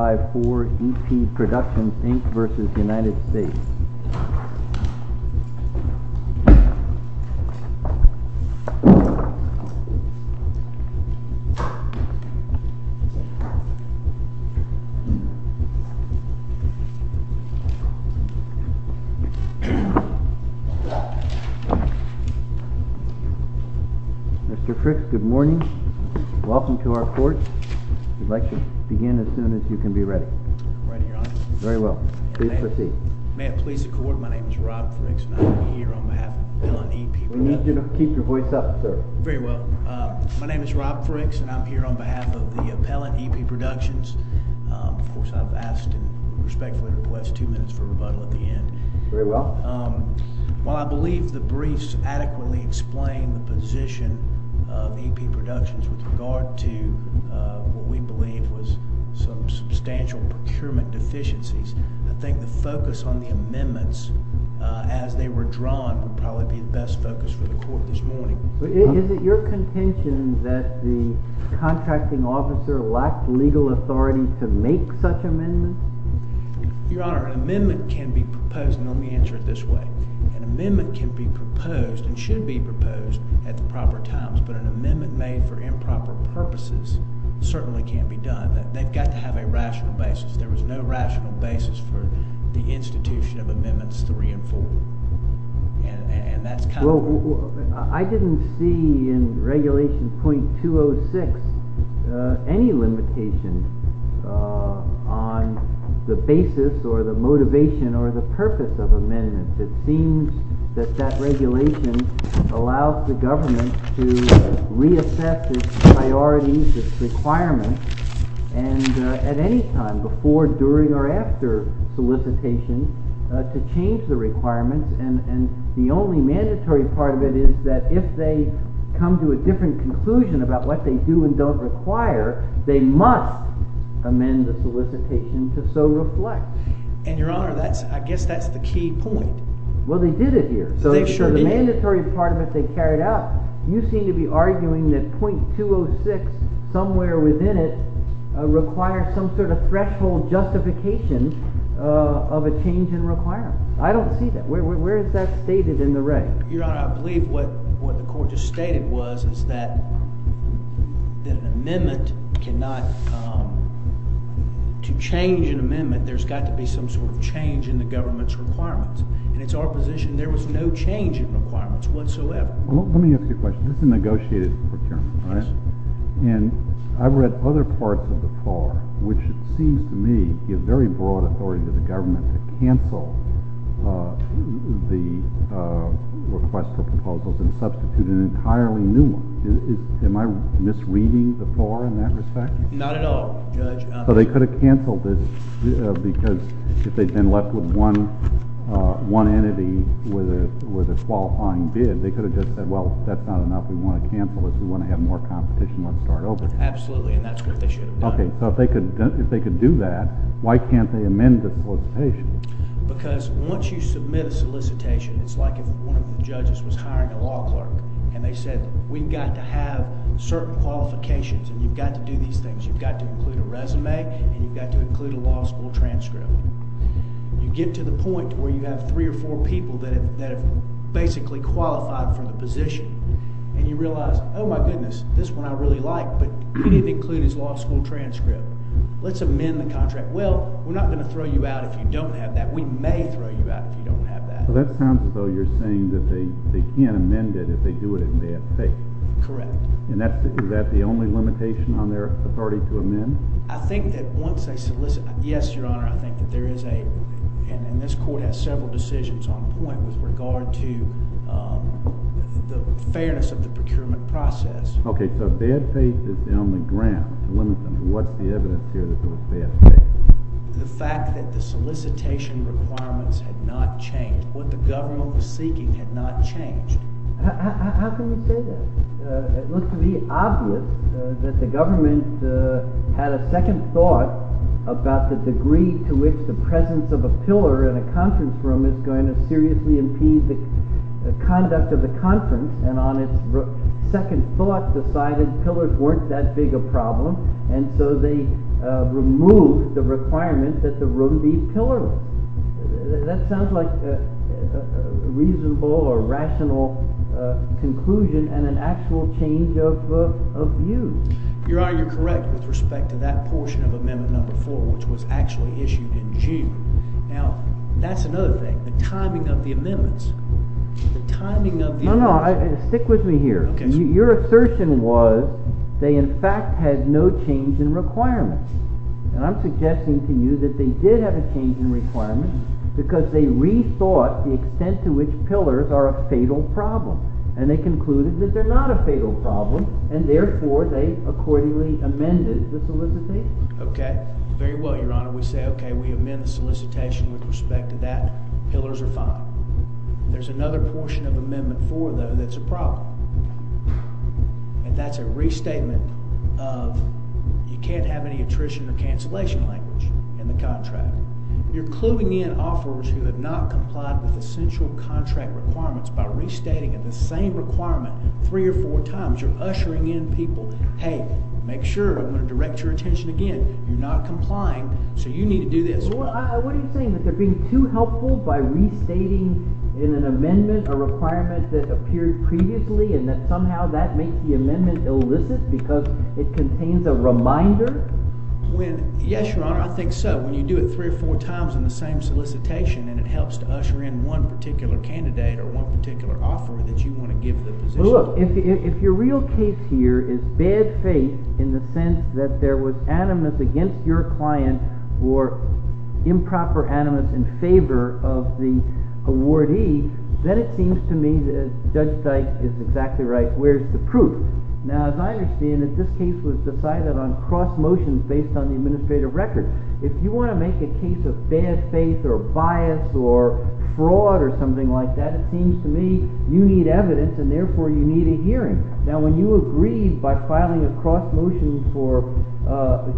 Mr. Fricks, good morning. Welcome to our court. We'd like to begin as soon as you can. I'm ready, Your Honor. Very well. Please proceed. May it please the court, my name is Rob Fricks and I'm here on behalf of the appellant EP Productions. We need you to keep your voice up, sir. Very well. My name is Rob Fricks and I'm here on behalf of the appellant EP Productions. Of course, I've asked and respectfully request two minutes for rebuttal at the end. Very well. While I believe the briefs adequately explain the position of EP Productions with regard to what we believe was some substantial procurement deficiencies, I think the focus on the amendments as they were drawn would probably be the best focus for the court this morning. Is it your contention that the contracting officer lacked legal authority to make such amendments? Your Honor, an amendment can be proposed, and let me answer it this way. An amendment can be proposed and should be proposed at the proper times, but an amendment made for improper purposes certainly can't be done. They've got to have a rational basis. There was no rational basis for the institution of amendments three and four. I didn't see in regulation .206 any limitation on the basis or the motivation or the purpose of amendments. It seems that that regulation allows the government to reassess its priorities, its requirements, and at any time before, during, or after solicitation to change the requirements. And the only mandatory part of it is that if they come to a different conclusion about what they do and don't require, they must amend the solicitation to so reflect. And, Your Honor, I guess that's the key point. Well, they did it here. They sure did. In the mandatory part of it they carried out, you seem to be arguing that .206, somewhere within it, requires some sort of threshold justification of a change in requirements. I don't see that. Where is that stated in the reg? Your Honor, I believe what the court just stated was that an amendment cannot, to change an amendment, there's got to be some sort of change in the government's requirements. And it's our position there was no change in requirements whatsoever. Let me ask you a question. This is a negotiated procurement. All right. And I've read other parts of the FAR, which it seems to me give very broad authority to the government to cancel the request for proposals and substitute an entirely new one. Am I misreading the FAR in that respect? Not at all, Judge. So they could have canceled this because if they'd been left with one entity with a qualifying bid, they could have just said, well, that's not enough. We want to cancel this. We want to have more competition. Let's start over. Absolutely. And that's what they should have done. Okay. So if they could do that, why can't they amend this solicitation? Because once you submit a solicitation, it's like if one of the judges was hiring a law clerk and they said, we've got to have certain qualifications and you've got to do these things. You've got to include a resume and you've got to include a law school transcript. You get to the point where you have three or four people that have basically qualified for the position and you realize, oh, my goodness, this one I really like, but he didn't include his law school transcript. Let's amend the contract. Well, we're not going to throw you out if you don't have that. We may throw you out if you don't have that. Well, that sounds as though you're saying that they can't amend it if they do it in bad faith. Correct. And is that the only limitation on their authority to amend? I think that once they solicit – yes, Your Honor, I think that there is a – and this court has several decisions on point with regard to the fairness of the procurement process. Okay. So bad faith is the only ground to limit them. What's the evidence here that there was bad faith? The fact that the solicitation requirements had not changed. What the government was seeking had not changed. How can you say that? It looks to be obvious that the government had a second thought about the degree to which the presence of a pillar in a conference room is going to seriously impede the conduct of the conference, and on its second thought decided pillars weren't that big a problem, and so they removed the requirement that the room be pillar-less. That sounds like a reasonable or rational conclusion and an actual change of view. Your Honor, you're correct with respect to that portion of Amendment No. 4, which was actually issued in June. Now, that's another thing, the timing of the amendments. The timing of the – No, no, stick with me here. Okay. Your assertion was they in fact had no change in requirements. And I'm suggesting to you that they did have a change in requirements because they rethought the extent to which pillars are a fatal problem, and they concluded that they're not a fatal problem, and therefore they accordingly amended the solicitation. Okay. Very well, Your Honor. We say, okay, we amend the solicitation with respect to that. Pillars are fine. There's another portion of Amendment 4, though, that's a problem. And that's a restatement of you can't have any attrition or cancellation language in the contract. You're cluing in offerors who have not complied with essential contract requirements by restating the same requirement three or four times. You're ushering in people, hey, make sure I'm going to direct your attention again. You're not complying, so you need to do this. What are you saying, that they're being too helpful by restating in an amendment a requirement that appeared previously and that somehow that makes the amendment illicit because it contains a reminder? Yes, Your Honor, I think so. When you do it three or four times in the same solicitation and it helps to usher in one particular candidate or one particular offeror that you want to give the position to. Well, look, if your real case here is bad faith in the sense that there was animus against your client or improper animus in favor of the awardee, then it seems to me that Judge Dyke is exactly right. Where's the proof? Now, as I understand it, this case was decided on cross motions based on the administrative record. If you want to make a case of bad faith or bias or fraud or something like that, it seems to me you need evidence and therefore you need a hearing. Now, when you agree by filing a cross motion for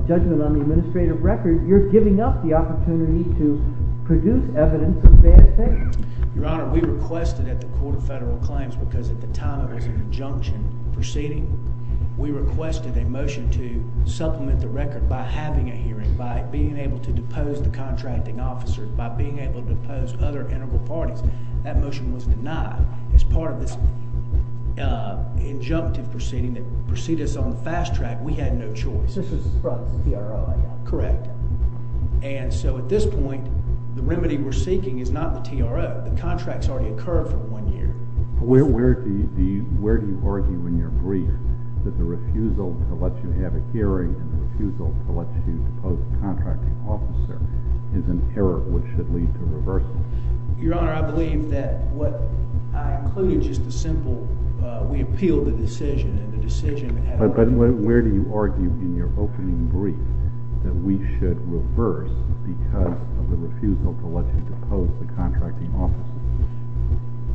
judgment on the administrative record, you're giving up the opportunity to produce evidence of bad faith. Your Honor, we requested at the Court of Federal Claims, because at the time it was in conjunction proceeding, we requested a motion to supplement the record by having a hearing, by being able to depose the contracting officer, by being able to depose other integral parties. That motion was denied. As part of this injunctive proceeding that preceded us on the fast track, we had no choice. This is from the TRO, I guess. Correct. And so at this point, the remedy we're seeking is not the TRO. The contract's already occurred for one year. Where do you argue in your brief that the refusal to let you have a hearing and the refusal to let you depose the contracting officer is an error which should lead to reversal? Your Honor, I believe that what I included is just a simple we appeal the decision and the decision had already been made. But where do you argue in your opening brief that we should reverse because of the refusal to let you depose the contracting officer?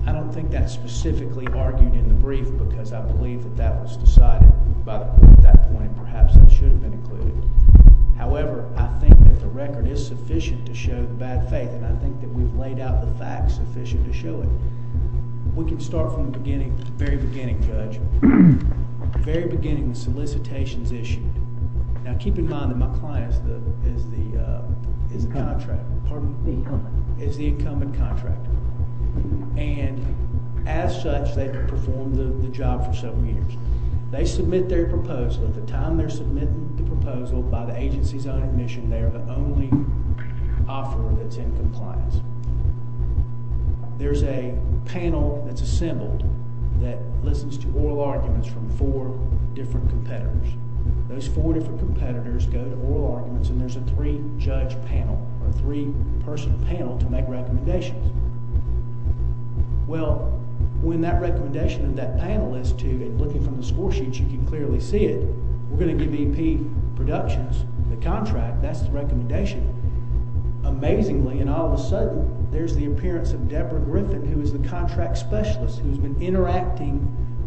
I don't think that's specifically argued in the brief because I believe that that was decided about that point and perhaps it should have been included. However, I think that the record is sufficient to show the bad faith and I think that we've laid out the facts sufficient to show it. We can start from the very beginning, Judge. The very beginning, the solicitation's issued. Now keep in mind that my client is the incumbent contractor. And as such, they've performed the job for several years. They submit their proposal. At the time they're submitting the proposal by the agency's own admission, they are the only offeror that's in compliance. There's a panel that's assembled that listens to oral arguments from four different competitors. Those four different competitors go to oral arguments and there's a three-judge panel or three-person panel to make recommendations. Well, when that recommendation of that panel is to, looking from the score sheets, you can clearly see it. We're going to give E.P. Productions the contract. That's the recommendation. Amazingly, and all of a sudden, there's the appearance of Deborah Griffin, who is the contract specialist who's been interacting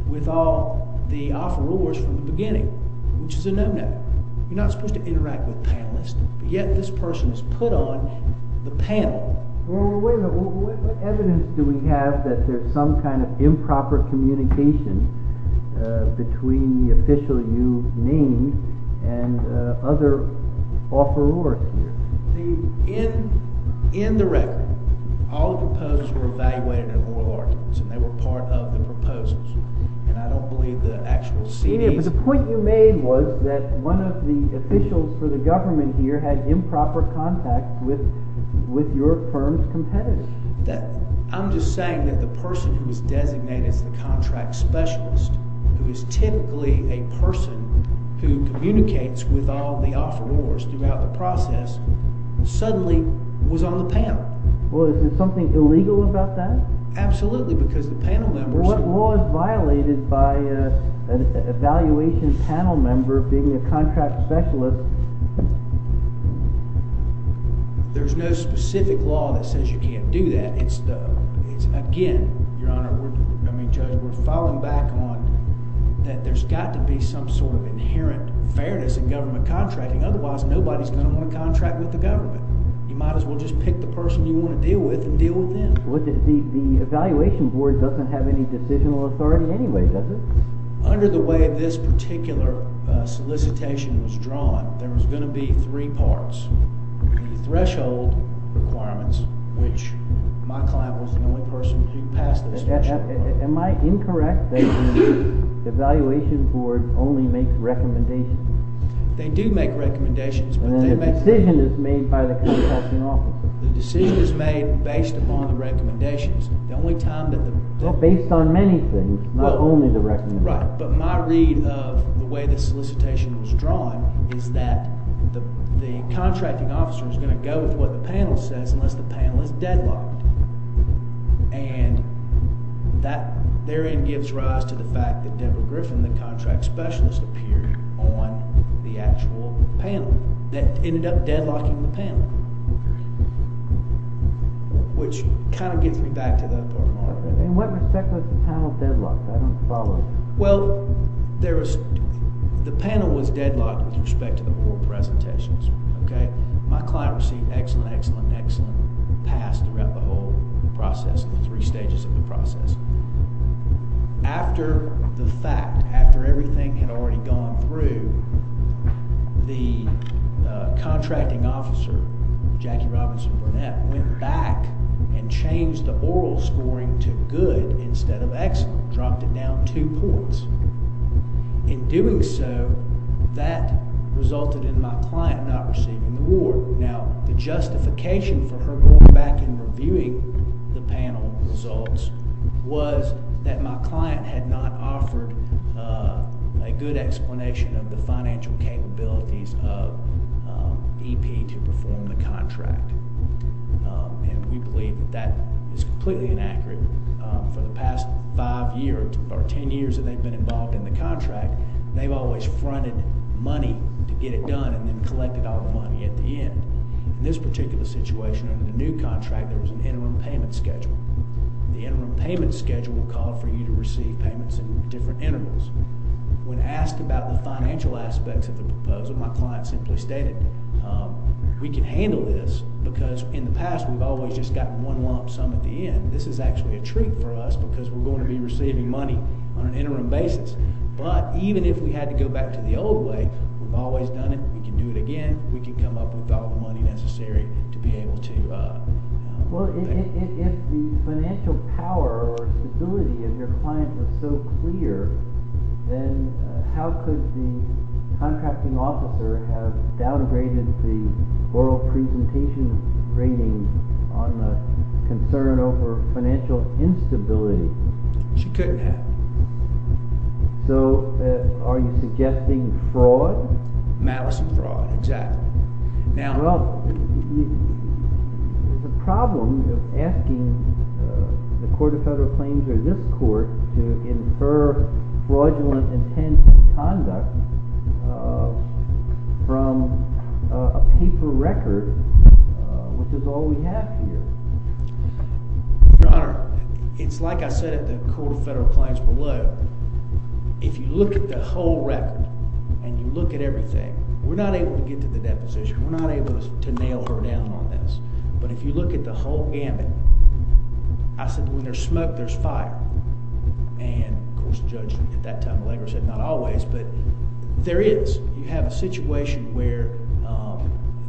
with all the offerors from the beginning, which is a no-no. You're not supposed to interact with panelists, but yet this person is put on the panel. Well, wait a minute. What evidence do we have that there's some kind of improper communication between the official you named and other offerors here? See, in the record, all the proposals were evaluated in oral arguments and they were part of the proposals, and I don't believe the actual C.D. But the point you made was that one of the officials for the government here had improper contact with your firm's competitors. I'm just saying that the person who was designated as the contract specialist, who is typically a person who communicates with all the offerors throughout the process, suddenly was on the panel. Well, is there something illegal about that? Absolutely, because the panel members— But law is violated by an evaluation panel member being a contract specialist. There's no specific law that says you can't do that. Again, Your Honor, I mean, Judge, we're falling back on that there's got to be some sort of inherent fairness in government contracting. Otherwise, nobody's going to want to contract with the government. You might as well just pick the person you want to deal with and deal with them. The evaluation board doesn't have any decisional authority anyway, does it? Under the way this particular solicitation was drawn, there was going to be three parts. The threshold requirements, which my client was the only person to pass the threshold. Am I incorrect that the evaluation board only makes recommendations? They do make recommendations, but they make— The decision is made by the contracting officer. The decision is made based upon the recommendations. The only time that the— Well, based on many things, not only the recommendations. Right, but my read of the way this solicitation was drawn is that the contracting officer is going to go with what the panel says unless the panel is deadlocked. And that therein gives rise to the fact that Debra Griffin, the contract specialist, appeared on the actual panel that ended up deadlocking the panel, which kind of gets me back to the— In what respect was the panel deadlocked? I don't follow. Well, the panel was deadlocked with respect to the board presentations. My client received excellent, excellent, excellent pass throughout the whole process, the three stages of the process. After the fact, after everything had already gone through, the contracting officer, Jackie Robinson Burnett, went back and changed the oral scoring to good instead of excellent, dropped it down two points. In doing so, that resulted in my client not receiving the award. Now, the justification for her going back and reviewing the panel results was that my client had not offered a good explanation of the financial capabilities of EP to perform the contract. And we believe that that is completely inaccurate. For the past five years or ten years that they've been involved in the contract, they've always fronted money to get it done and then collected all the money at the end. In this particular situation, under the new contract, there was an interim payment schedule. The interim payment schedule will call for you to receive payments in different intervals. When asked about the financial aspects of the proposal, my client simply stated, we can handle this because in the past we've always just gotten one lump sum at the end. This is actually a treat for us because we're going to be receiving money on an interim basis. But even if we had to go back to the old way, we've always done it. We can do it again. We can come up with all the money necessary to be able to pay. Well, if the financial power or stability of your client was so clear, then how could the contracting officer have downgraded the oral presentation rating on the concern over financial instability? She couldn't have. So are you suggesting fraud? Malice and fraud, exactly. Well, the problem of asking the Court of Federal Claims or this court to infer fraudulent intent conduct from a paper record, which is all we have here. Your Honor, it's like I said at the Court of Federal Claims below. If you look at the whole record and you look at everything, we're not able to get to the deposition. We're not able to nail her down on this. But if you look at the whole gamut, I said when there's smoke, there's fire. And, of course, the judge at that time or later said not always, but there is. You have a situation where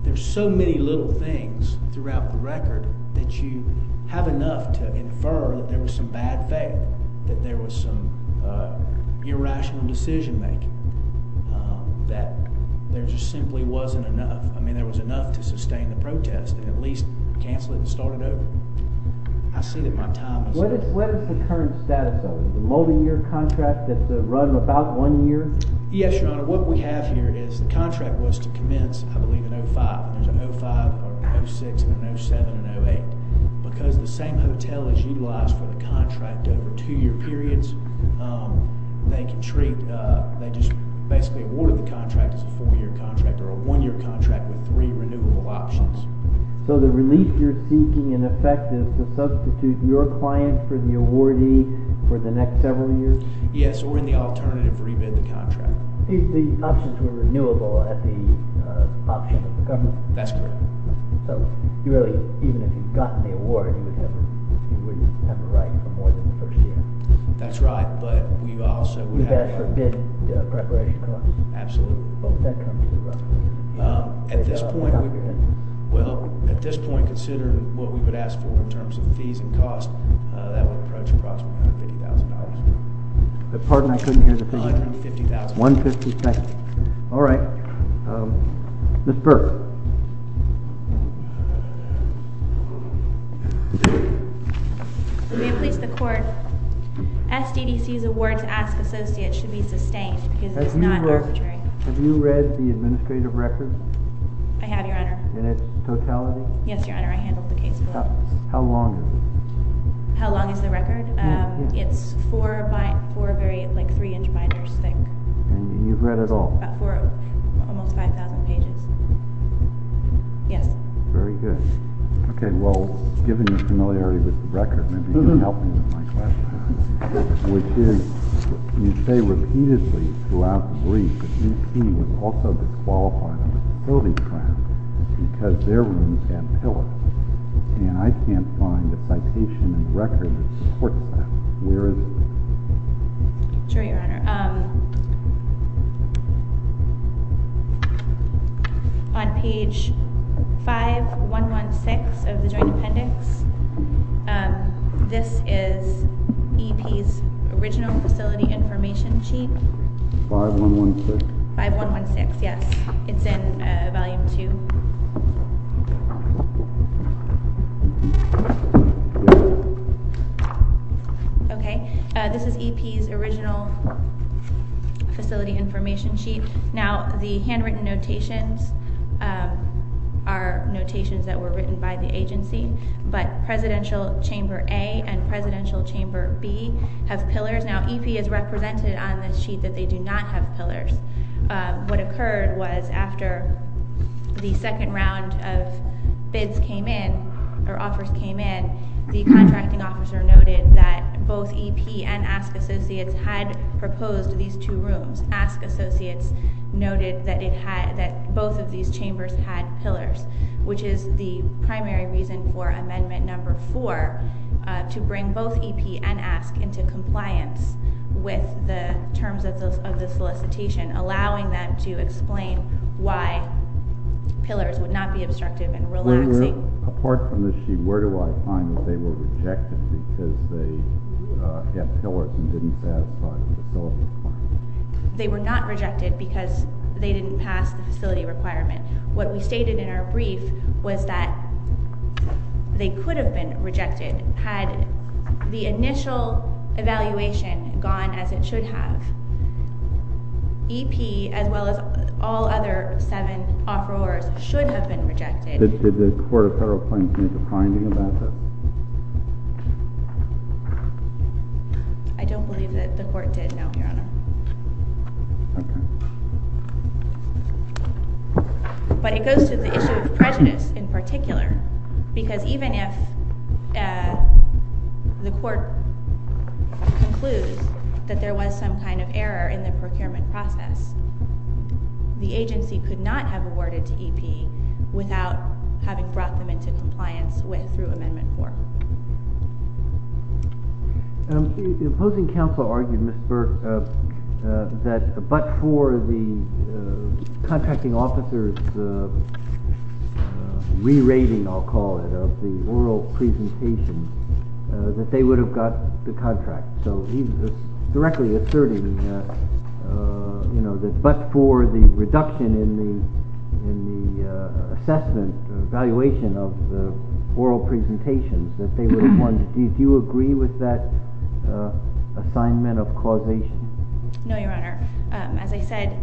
there's so many little things throughout the record that you have enough to infer that there was some bad faith, that there was some irrational decision-making, that there just simply wasn't enough. I mean, there was enough to sustain the protest and at least cancel it and start it over. I see that my time is up. What is the current status of it? Is it a multi-year contract that's run about one year? Yes, Your Honor. What we have here is the contract was to commence, I believe, in 2005. There's a 05, a 06, and a 07, and a 08. Because the same hotel has utilized for the contract over two-year periods, they just basically awarded the contract as a four-year contract or a one-year contract with three renewable options. So the relief you're seeking, in effect, is to substitute your client for the awardee for the next several years? The options were renewable at the option of the government? That's correct. So you really, even if you'd gotten the award, you wouldn't have to write for more than the first year? That's right, but we also would have to… You've asked for bid preparation costs? Absolutely. What would that come to? At this point, well, at this point, considering what we would ask for in terms of fees and costs, that would approach approximately $150,000. Pardon, I couldn't hear the question. $150,000. $150,000. All right. Ms. Burke. May it please the Court, SDDC's award to Ask Associate should be sustained because it is not arbitrary. Have you read the administrative record? I have, Your Honor. In its totality? Yes, Your Honor, I handled the case for it. How long is it? How long is the record? It's four very, like, three-inch binders thick. And you've read it all? Almost 5,000 pages. Yes. Very good. Okay, well, given your familiarity with the record, maybe you can help me with my question, which is, you say repeatedly throughout the brief that UT was also disqualified from the facility trial because their rooms had pillars, and I can't find a citation and record that supports that. Where is it? Sure, Your Honor. On page 5116 of the Joint Appendix, this is EP's original facility information sheet. 5116? 5116, yes. It's in Volume 2. Okay, this is EP's original facility information sheet. Now, the handwritten notations are notations that were written by the agency, but Presidential Chamber A and Presidential Chamber B have pillars. Now, EP is represented on this sheet that they do not have pillars. What occurred was after the second round of offers came in, the contracting officer noted that both EP and Ask Associates had proposed these two rooms. Ask Associates noted that both of these chambers had pillars, which is the primary reason for Amendment No. 4 to bring both EP and Ask into compliance with the terms of the solicitation, allowing them to explain why pillars would not be obstructive and relaxing. Apart from this sheet, where do I find that they were rejected because they had pillars and didn't satisfy the facility requirements? They were not rejected because they didn't pass the facility requirement. What we stated in our brief was that they could have been rejected had the initial evaluation gone as it should have. EP, as well as all other seven offerors, should have been rejected. Did the Court of Federal Appointments make a finding about that? I don't believe that the Court did, no, Your Honor. Okay. But it goes to the issue of prejudice in particular because even if the Court concludes that there was some kind of error in the procurement process, the agency could not have awarded to EP without having brought them into compliance through Amendment 4. The opposing counsel argued, Ms. Burke, that but for the contracting officer's re-rating, I'll call it, of the oral presentation, that they would have got the contract. So he's directly asserting that but for the reduction in the assessment, evaluation of the oral presentations that they would have won. Do you agree with that assignment of causation? No, Your Honor. As I said,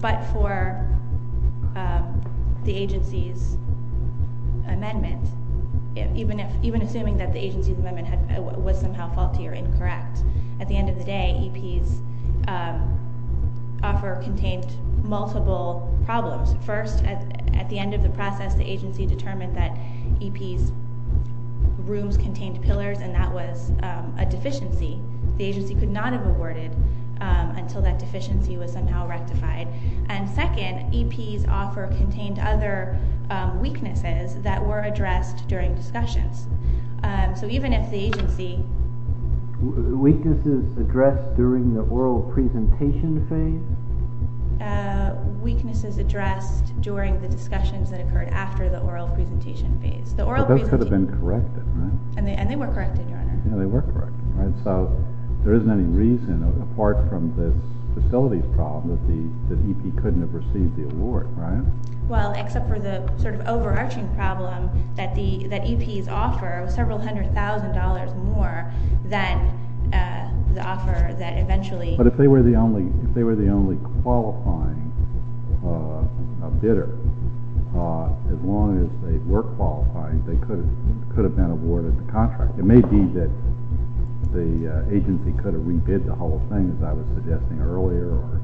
but for the agency's amendment, even assuming that the agency's amendment was somehow faulty or incorrect, at the end of the day, EP's offer contained multiple problems. First, at the end of the process, the agency determined that EP's rooms contained pillars, and that was a deficiency. The agency could not have awarded until that deficiency was somehow rectified. And second, EP's offer contained other weaknesses that were addressed during discussions. So even if the agency… Weaknesses addressed during the oral presentation phase? Weaknesses addressed during the discussions that occurred after the oral presentation phase. But those could have been corrected, right? And they were corrected, Your Honor. Yeah, they were corrected. So there isn't any reason, apart from the facilities problem, that EP couldn't have received the award, right? Well, except for the sort of overarching problem that EP's offer was several hundred thousand dollars more than the offer that eventually… But if they were the only qualifying bidder, as long as they were qualified, they could have been awarded the contract. It may be that the agency could have re-bid the whole thing, as I was suggesting earlier, or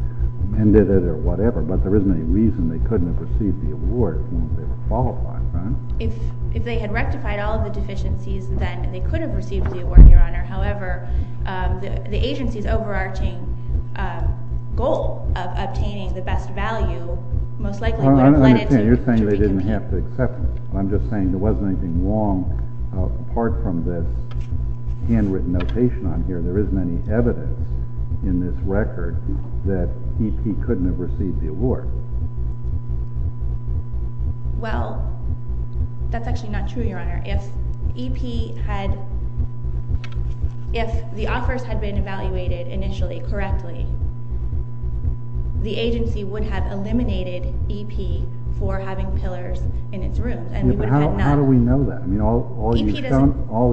amended it or whatever, but there isn't any reason they couldn't have received the award as long as they were qualified, right? If they had rectified all of the deficiencies, then they could have received the award, Your Honor. However, the agency's overarching goal of obtaining the best value most likely would have led it to… I don't understand. You're saying they didn't have to accept it. I'm just saying there wasn't anything wrong, apart from this handwritten notation on here. There isn't any evidence in this record that EP couldn't have received the award. Well, that's actually not true, Your Honor. If EP had… If the offers had been evaluated initially correctly, the agency would have eliminated EP for having pillars in its room. But how do we know that? All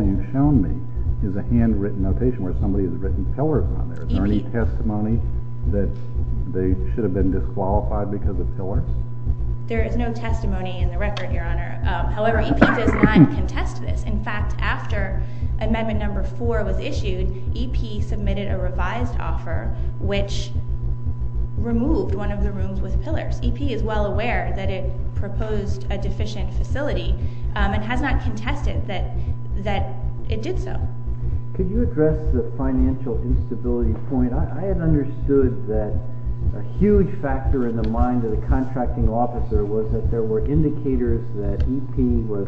you've shown me is a handwritten notation where somebody has written pillars on there. Is there any testimony that they should have been disqualified because of pillars? There is no testimony in the record, Your Honor. However, EP does not contest this. In fact, after Amendment No. 4 was issued, EP submitted a revised offer which removed one of the rooms with pillars. EP is well aware that it proposed a deficient facility and has not contested that it did so. Could you address the financial instability point? I had understood that a huge factor in the mind of the contracting officer was that there were indicators that EP was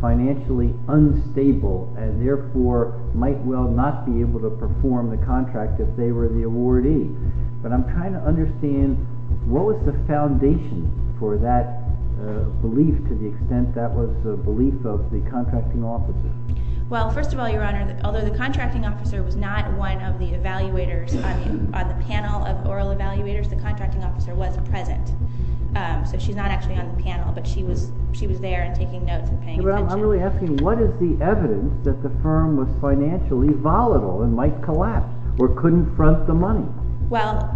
financially unstable and therefore might well not be able to perform the contract if they were the awardee. But I'm trying to understand, what was the foundation for that belief to the extent that was the belief of the contracting officer? Well, first of all, Your Honor, although the contracting officer was not one of the evaluators on the panel of oral evaluators, the contracting officer was present. So she's not actually on the panel, but she was there and taking notes and paying attention. I'm really asking, what is the evidence that the firm was financially volatile and might collapse or couldn't front the money? Well,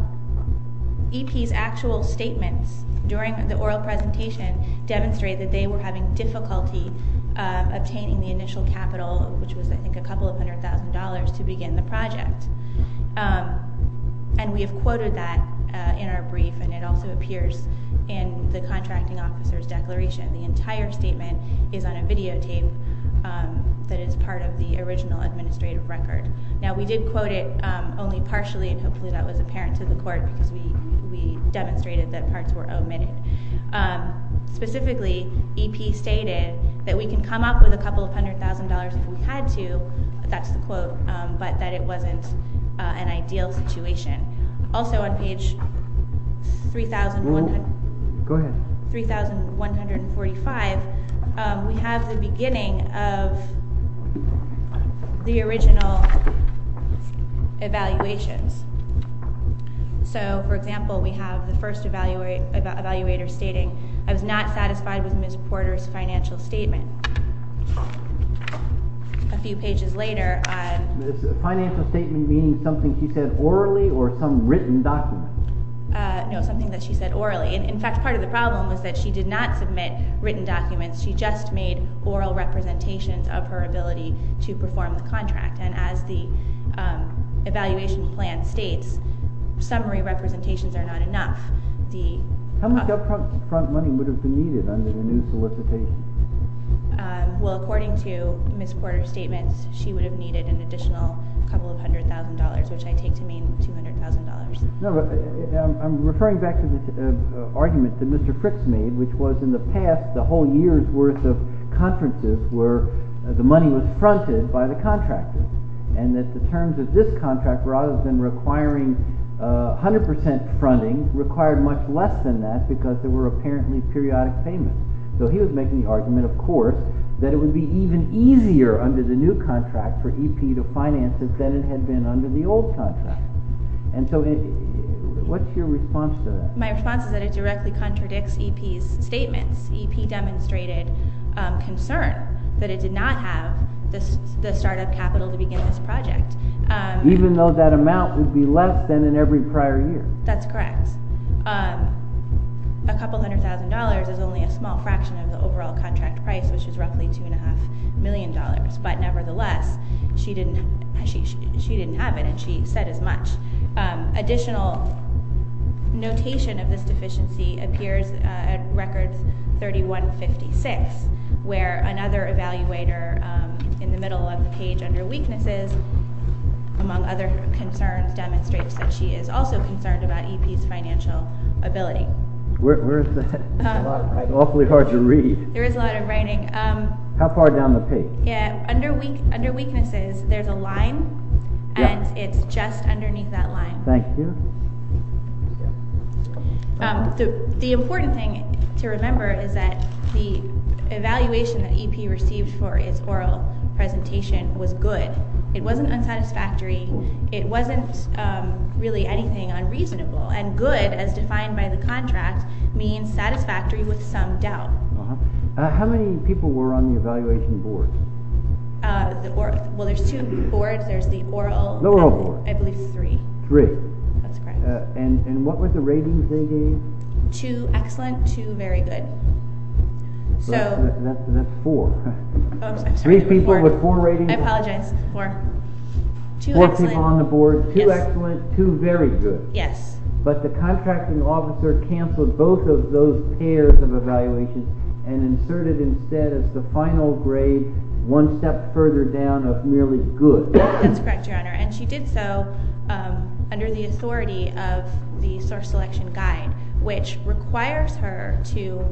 EP's actual statements during the oral presentation demonstrated that they were having difficulty obtaining the initial capital, which was I think a couple of hundred thousand dollars, to begin the project. And we have quoted that in our brief and it also appears in the contracting officer's declaration. The entire statement is on a videotape that is part of the original administrative record. Now, we did quote it only partially, and hopefully that was apparent to the court because we demonstrated that parts were omitted. Specifically, EP stated that we can come up with a couple of hundred thousand dollars if we had to, that's the quote, but that it wasn't an ideal situation. Also on page 3,145, we have the beginning of the original evaluations. So, for example, we have the first evaluator stating, I was not satisfied with Ms. Porter's financial statement. A few pages later, Financial statement meaning something she said orally or some written document? No, something that she said orally. In fact, part of the problem was that she did not submit written documents, she just made oral representations of her ability to perform the contract. And as the evaluation plan states, summary representations are not enough. How much upfront money would have been needed under the new solicitation? Well, according to Ms. Porter's statements, she would have needed an additional couple of hundred thousand dollars, which I take to mean $200,000. No, but I'm referring back to the argument that Mr. Fricks made, which was in the past, the whole year's worth of conferences where the money was fronted by the contractors and that the terms of this contract, rather than requiring 100% fronting, because there were apparently periodic payments. So he was making the argument, of course, that it would be even easier under the new contract for EP to finance it than it had been under the old contract. And so what's your response to that? My response is that it directly contradicts EP's statements. EP demonstrated concern that it did not have the startup capital to begin this project. Even though that amount would be less than in every prior year. That's correct. A couple hundred thousand dollars is only a small fraction of the overall contract price, which is roughly $2.5 million. But nevertheless, she didn't have it, and she said as much. Additional notation of this deficiency appears at records 3156, where another evaluator in the middle of the page under weaknesses, among other concerns, demonstrates that she is also concerned about EP's financial ability. Where is that? It's awfully hard to read. There is a lot of writing. How far down the page? Under weaknesses, there's a line, and it's just underneath that line. Thank you. The important thing to remember is that the evaluation that EP received for its oral presentation was good. It wasn't unsatisfactory. It wasn't really anything unreasonable. And good, as defined by the contract, means satisfactory with some doubt. How many people were on the evaluation board? Well, there's two boards. There's the oral. The oral board. I believe three. Three. That's correct. And what were the ratings they gave? Two excellent, two very good. That's four. I'm sorry. Three people with four ratings? I apologize. Four. Two excellent. Four people on the board. Two excellent, two very good. Yes. But the contracting officer canceled both of those pairs of evaluations and inserted instead the final grade one step further down of merely good. That's correct, Your Honor. And she did so under the authority of the source selection guide, which requires her to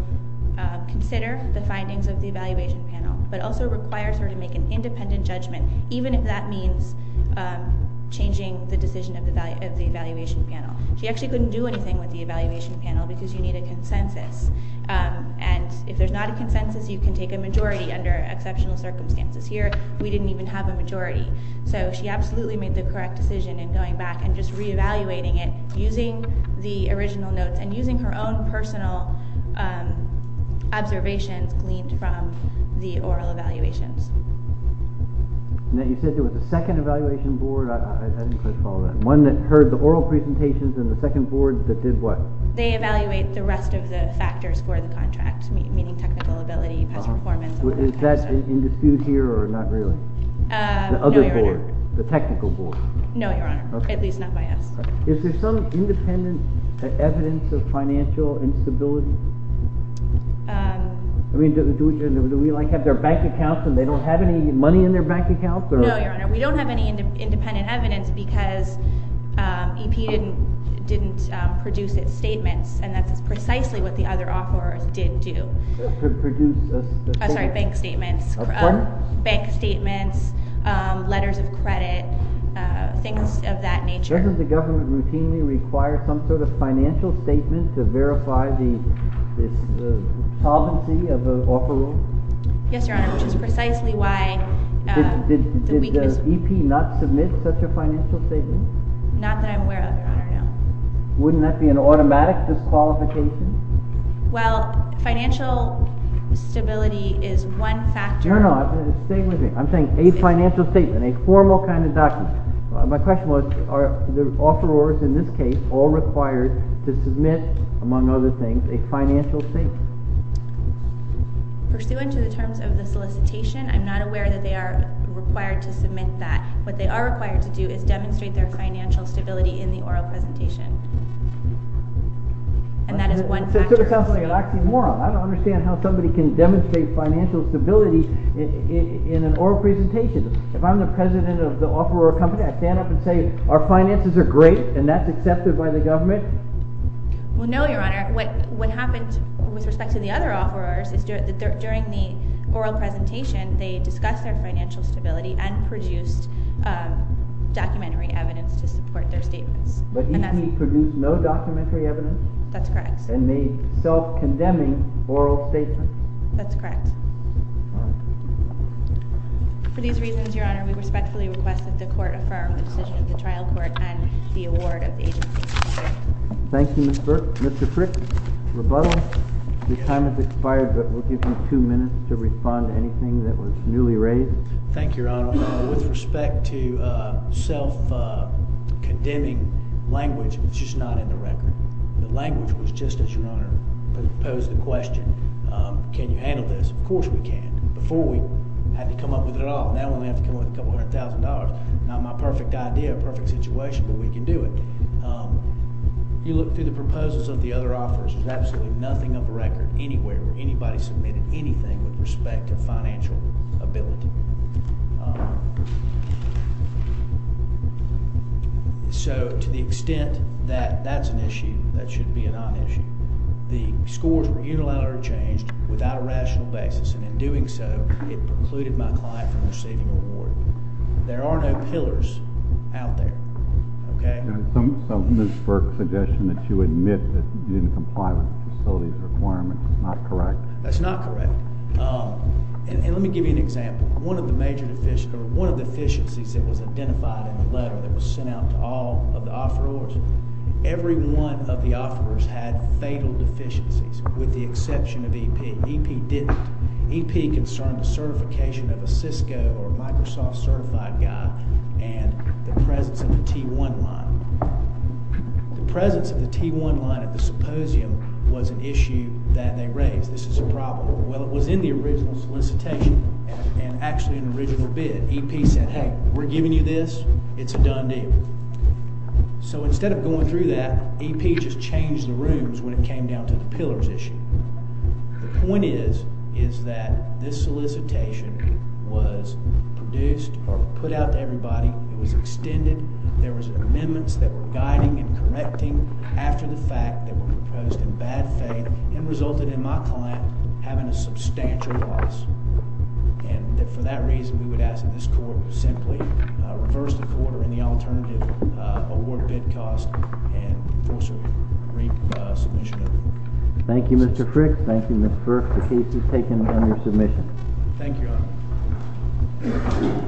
consider the findings of the evaluation panel, but also requires her to make an independent judgment, even if that means changing the decision of the evaluation panel. She actually couldn't do anything with the evaluation panel because you need a consensus. And if there's not a consensus, you can take a majority under exceptional circumstances. Here, we didn't even have a majority. So she absolutely made the correct decision in going back and just re-evaluating it using the original notes and using her own personal observations gleaned from the oral evaluations. And then you said there was a second evaluation board. I didn't quite follow that. One that heard the oral presentations and the second board that did what? They evaluate the rest of the factors for the contract, meaning technical ability, past performance... Is that in dispute here or not really? No, Your Honor. The other board, the technical board? No, Your Honor. At least not by us. Is there some independent evidence of financial instability? I mean, do we like have their bank accounts and they don't have any money in their bank accounts? No, Your Honor. We don't have any independent evidence because EP didn't produce its statements and that's precisely what the other offerors did do. Sorry, bank statements. Pardon? Bank statements, letters of credit, things of that nature. Doesn't the government routinely require some sort of financial statement to verify the solvency of an offeror? Yes, Your Honor, which is precisely why... Did EP not submit such a financial statement? Not that I'm aware of, Your Honor. Wouldn't that be an automatic disqualification? Well, financial stability is one factor... Your Honor, stay with me. I'm saying a financial statement, a formal kind of document. My question was, are the offerors in this case all required to submit, among other things, a financial statement? Pursuant to the terms of the solicitation, I'm not aware that they are required to submit that. What they are required to do is demonstrate their financial stability in the oral presentation. And that is one factor. That sort of sounds like an oxymoron. I don't understand how somebody can demonstrate financial stability in an oral presentation. If I'm the president of the offeror company, I stand up and say, our finances are great, and that's accepted by the government? Well, no, Your Honor. What happened with respect to the other offerors is that during the oral presentation, they discussed their financial stability and produced documentary evidence to support their statements. But EC produced no documentary evidence? That's correct. And made self-condemning oral statements? That's correct. For these reasons, Your Honor, we respectfully request that the Court affirm the decision of the trial court and the award of the agency. Thank you, Mr. Frick. Rebuttal? Your time has expired, but we'll give you two minutes to respond to anything that was newly raised. Thank you, Your Honor. With respect to self-condemning language, it's just not in the record. The language was just, Your Honor, posed the question, can you handle this? Of course we can. Before, we had to come up with it all. Now we have to come up with a couple hundred thousand dollars. Not my perfect idea, a perfect situation, but we can do it. You look through the proposals of the other offerors, there's absolutely nothing on the record anywhere where anybody submitted anything with respect to financial ability. So, to the extent that that's an issue, that should be a non-issue. The scores were unilaterally changed without a rational basis, and in doing so, it precluded my client from receiving the award. There are no pillars out there. Okay? There's some Mooseburg suggestion that you admit And let me give you an example. One of the things that we did, and I'm going to give you an example, but I'm going to give you an example One of the major deficiencies that was identified in the letter that was sent out to all of the offerors, every one of the offerors had fatal deficiencies with the exception of EP. EP didn't. EP concerned the certification of a Cisco or Microsoft certified guy and the presence of the T1 line. The presence of the T1 line at the symposium was an issue that they raised. This is a problem. Well, it was in the original solicitation and actually an original bid. EP said, hey, we're giving you this. It's a done deal. So instead of going through that, EP just changed the rooms when it came down to the pillars issue. The point is is that this solicitation was produced or put out to everybody. It was extended. There was amendments that were guiding and correcting after the fact that were proposed in bad faith and resulted in my client having a substantial loss. And for that reason, we would ask that this court would simply reverse the order in the alternative award bid cost and force a submission. Mr. Frick. Thank you, Mr. Burke. The case is taken under submission. Thank you,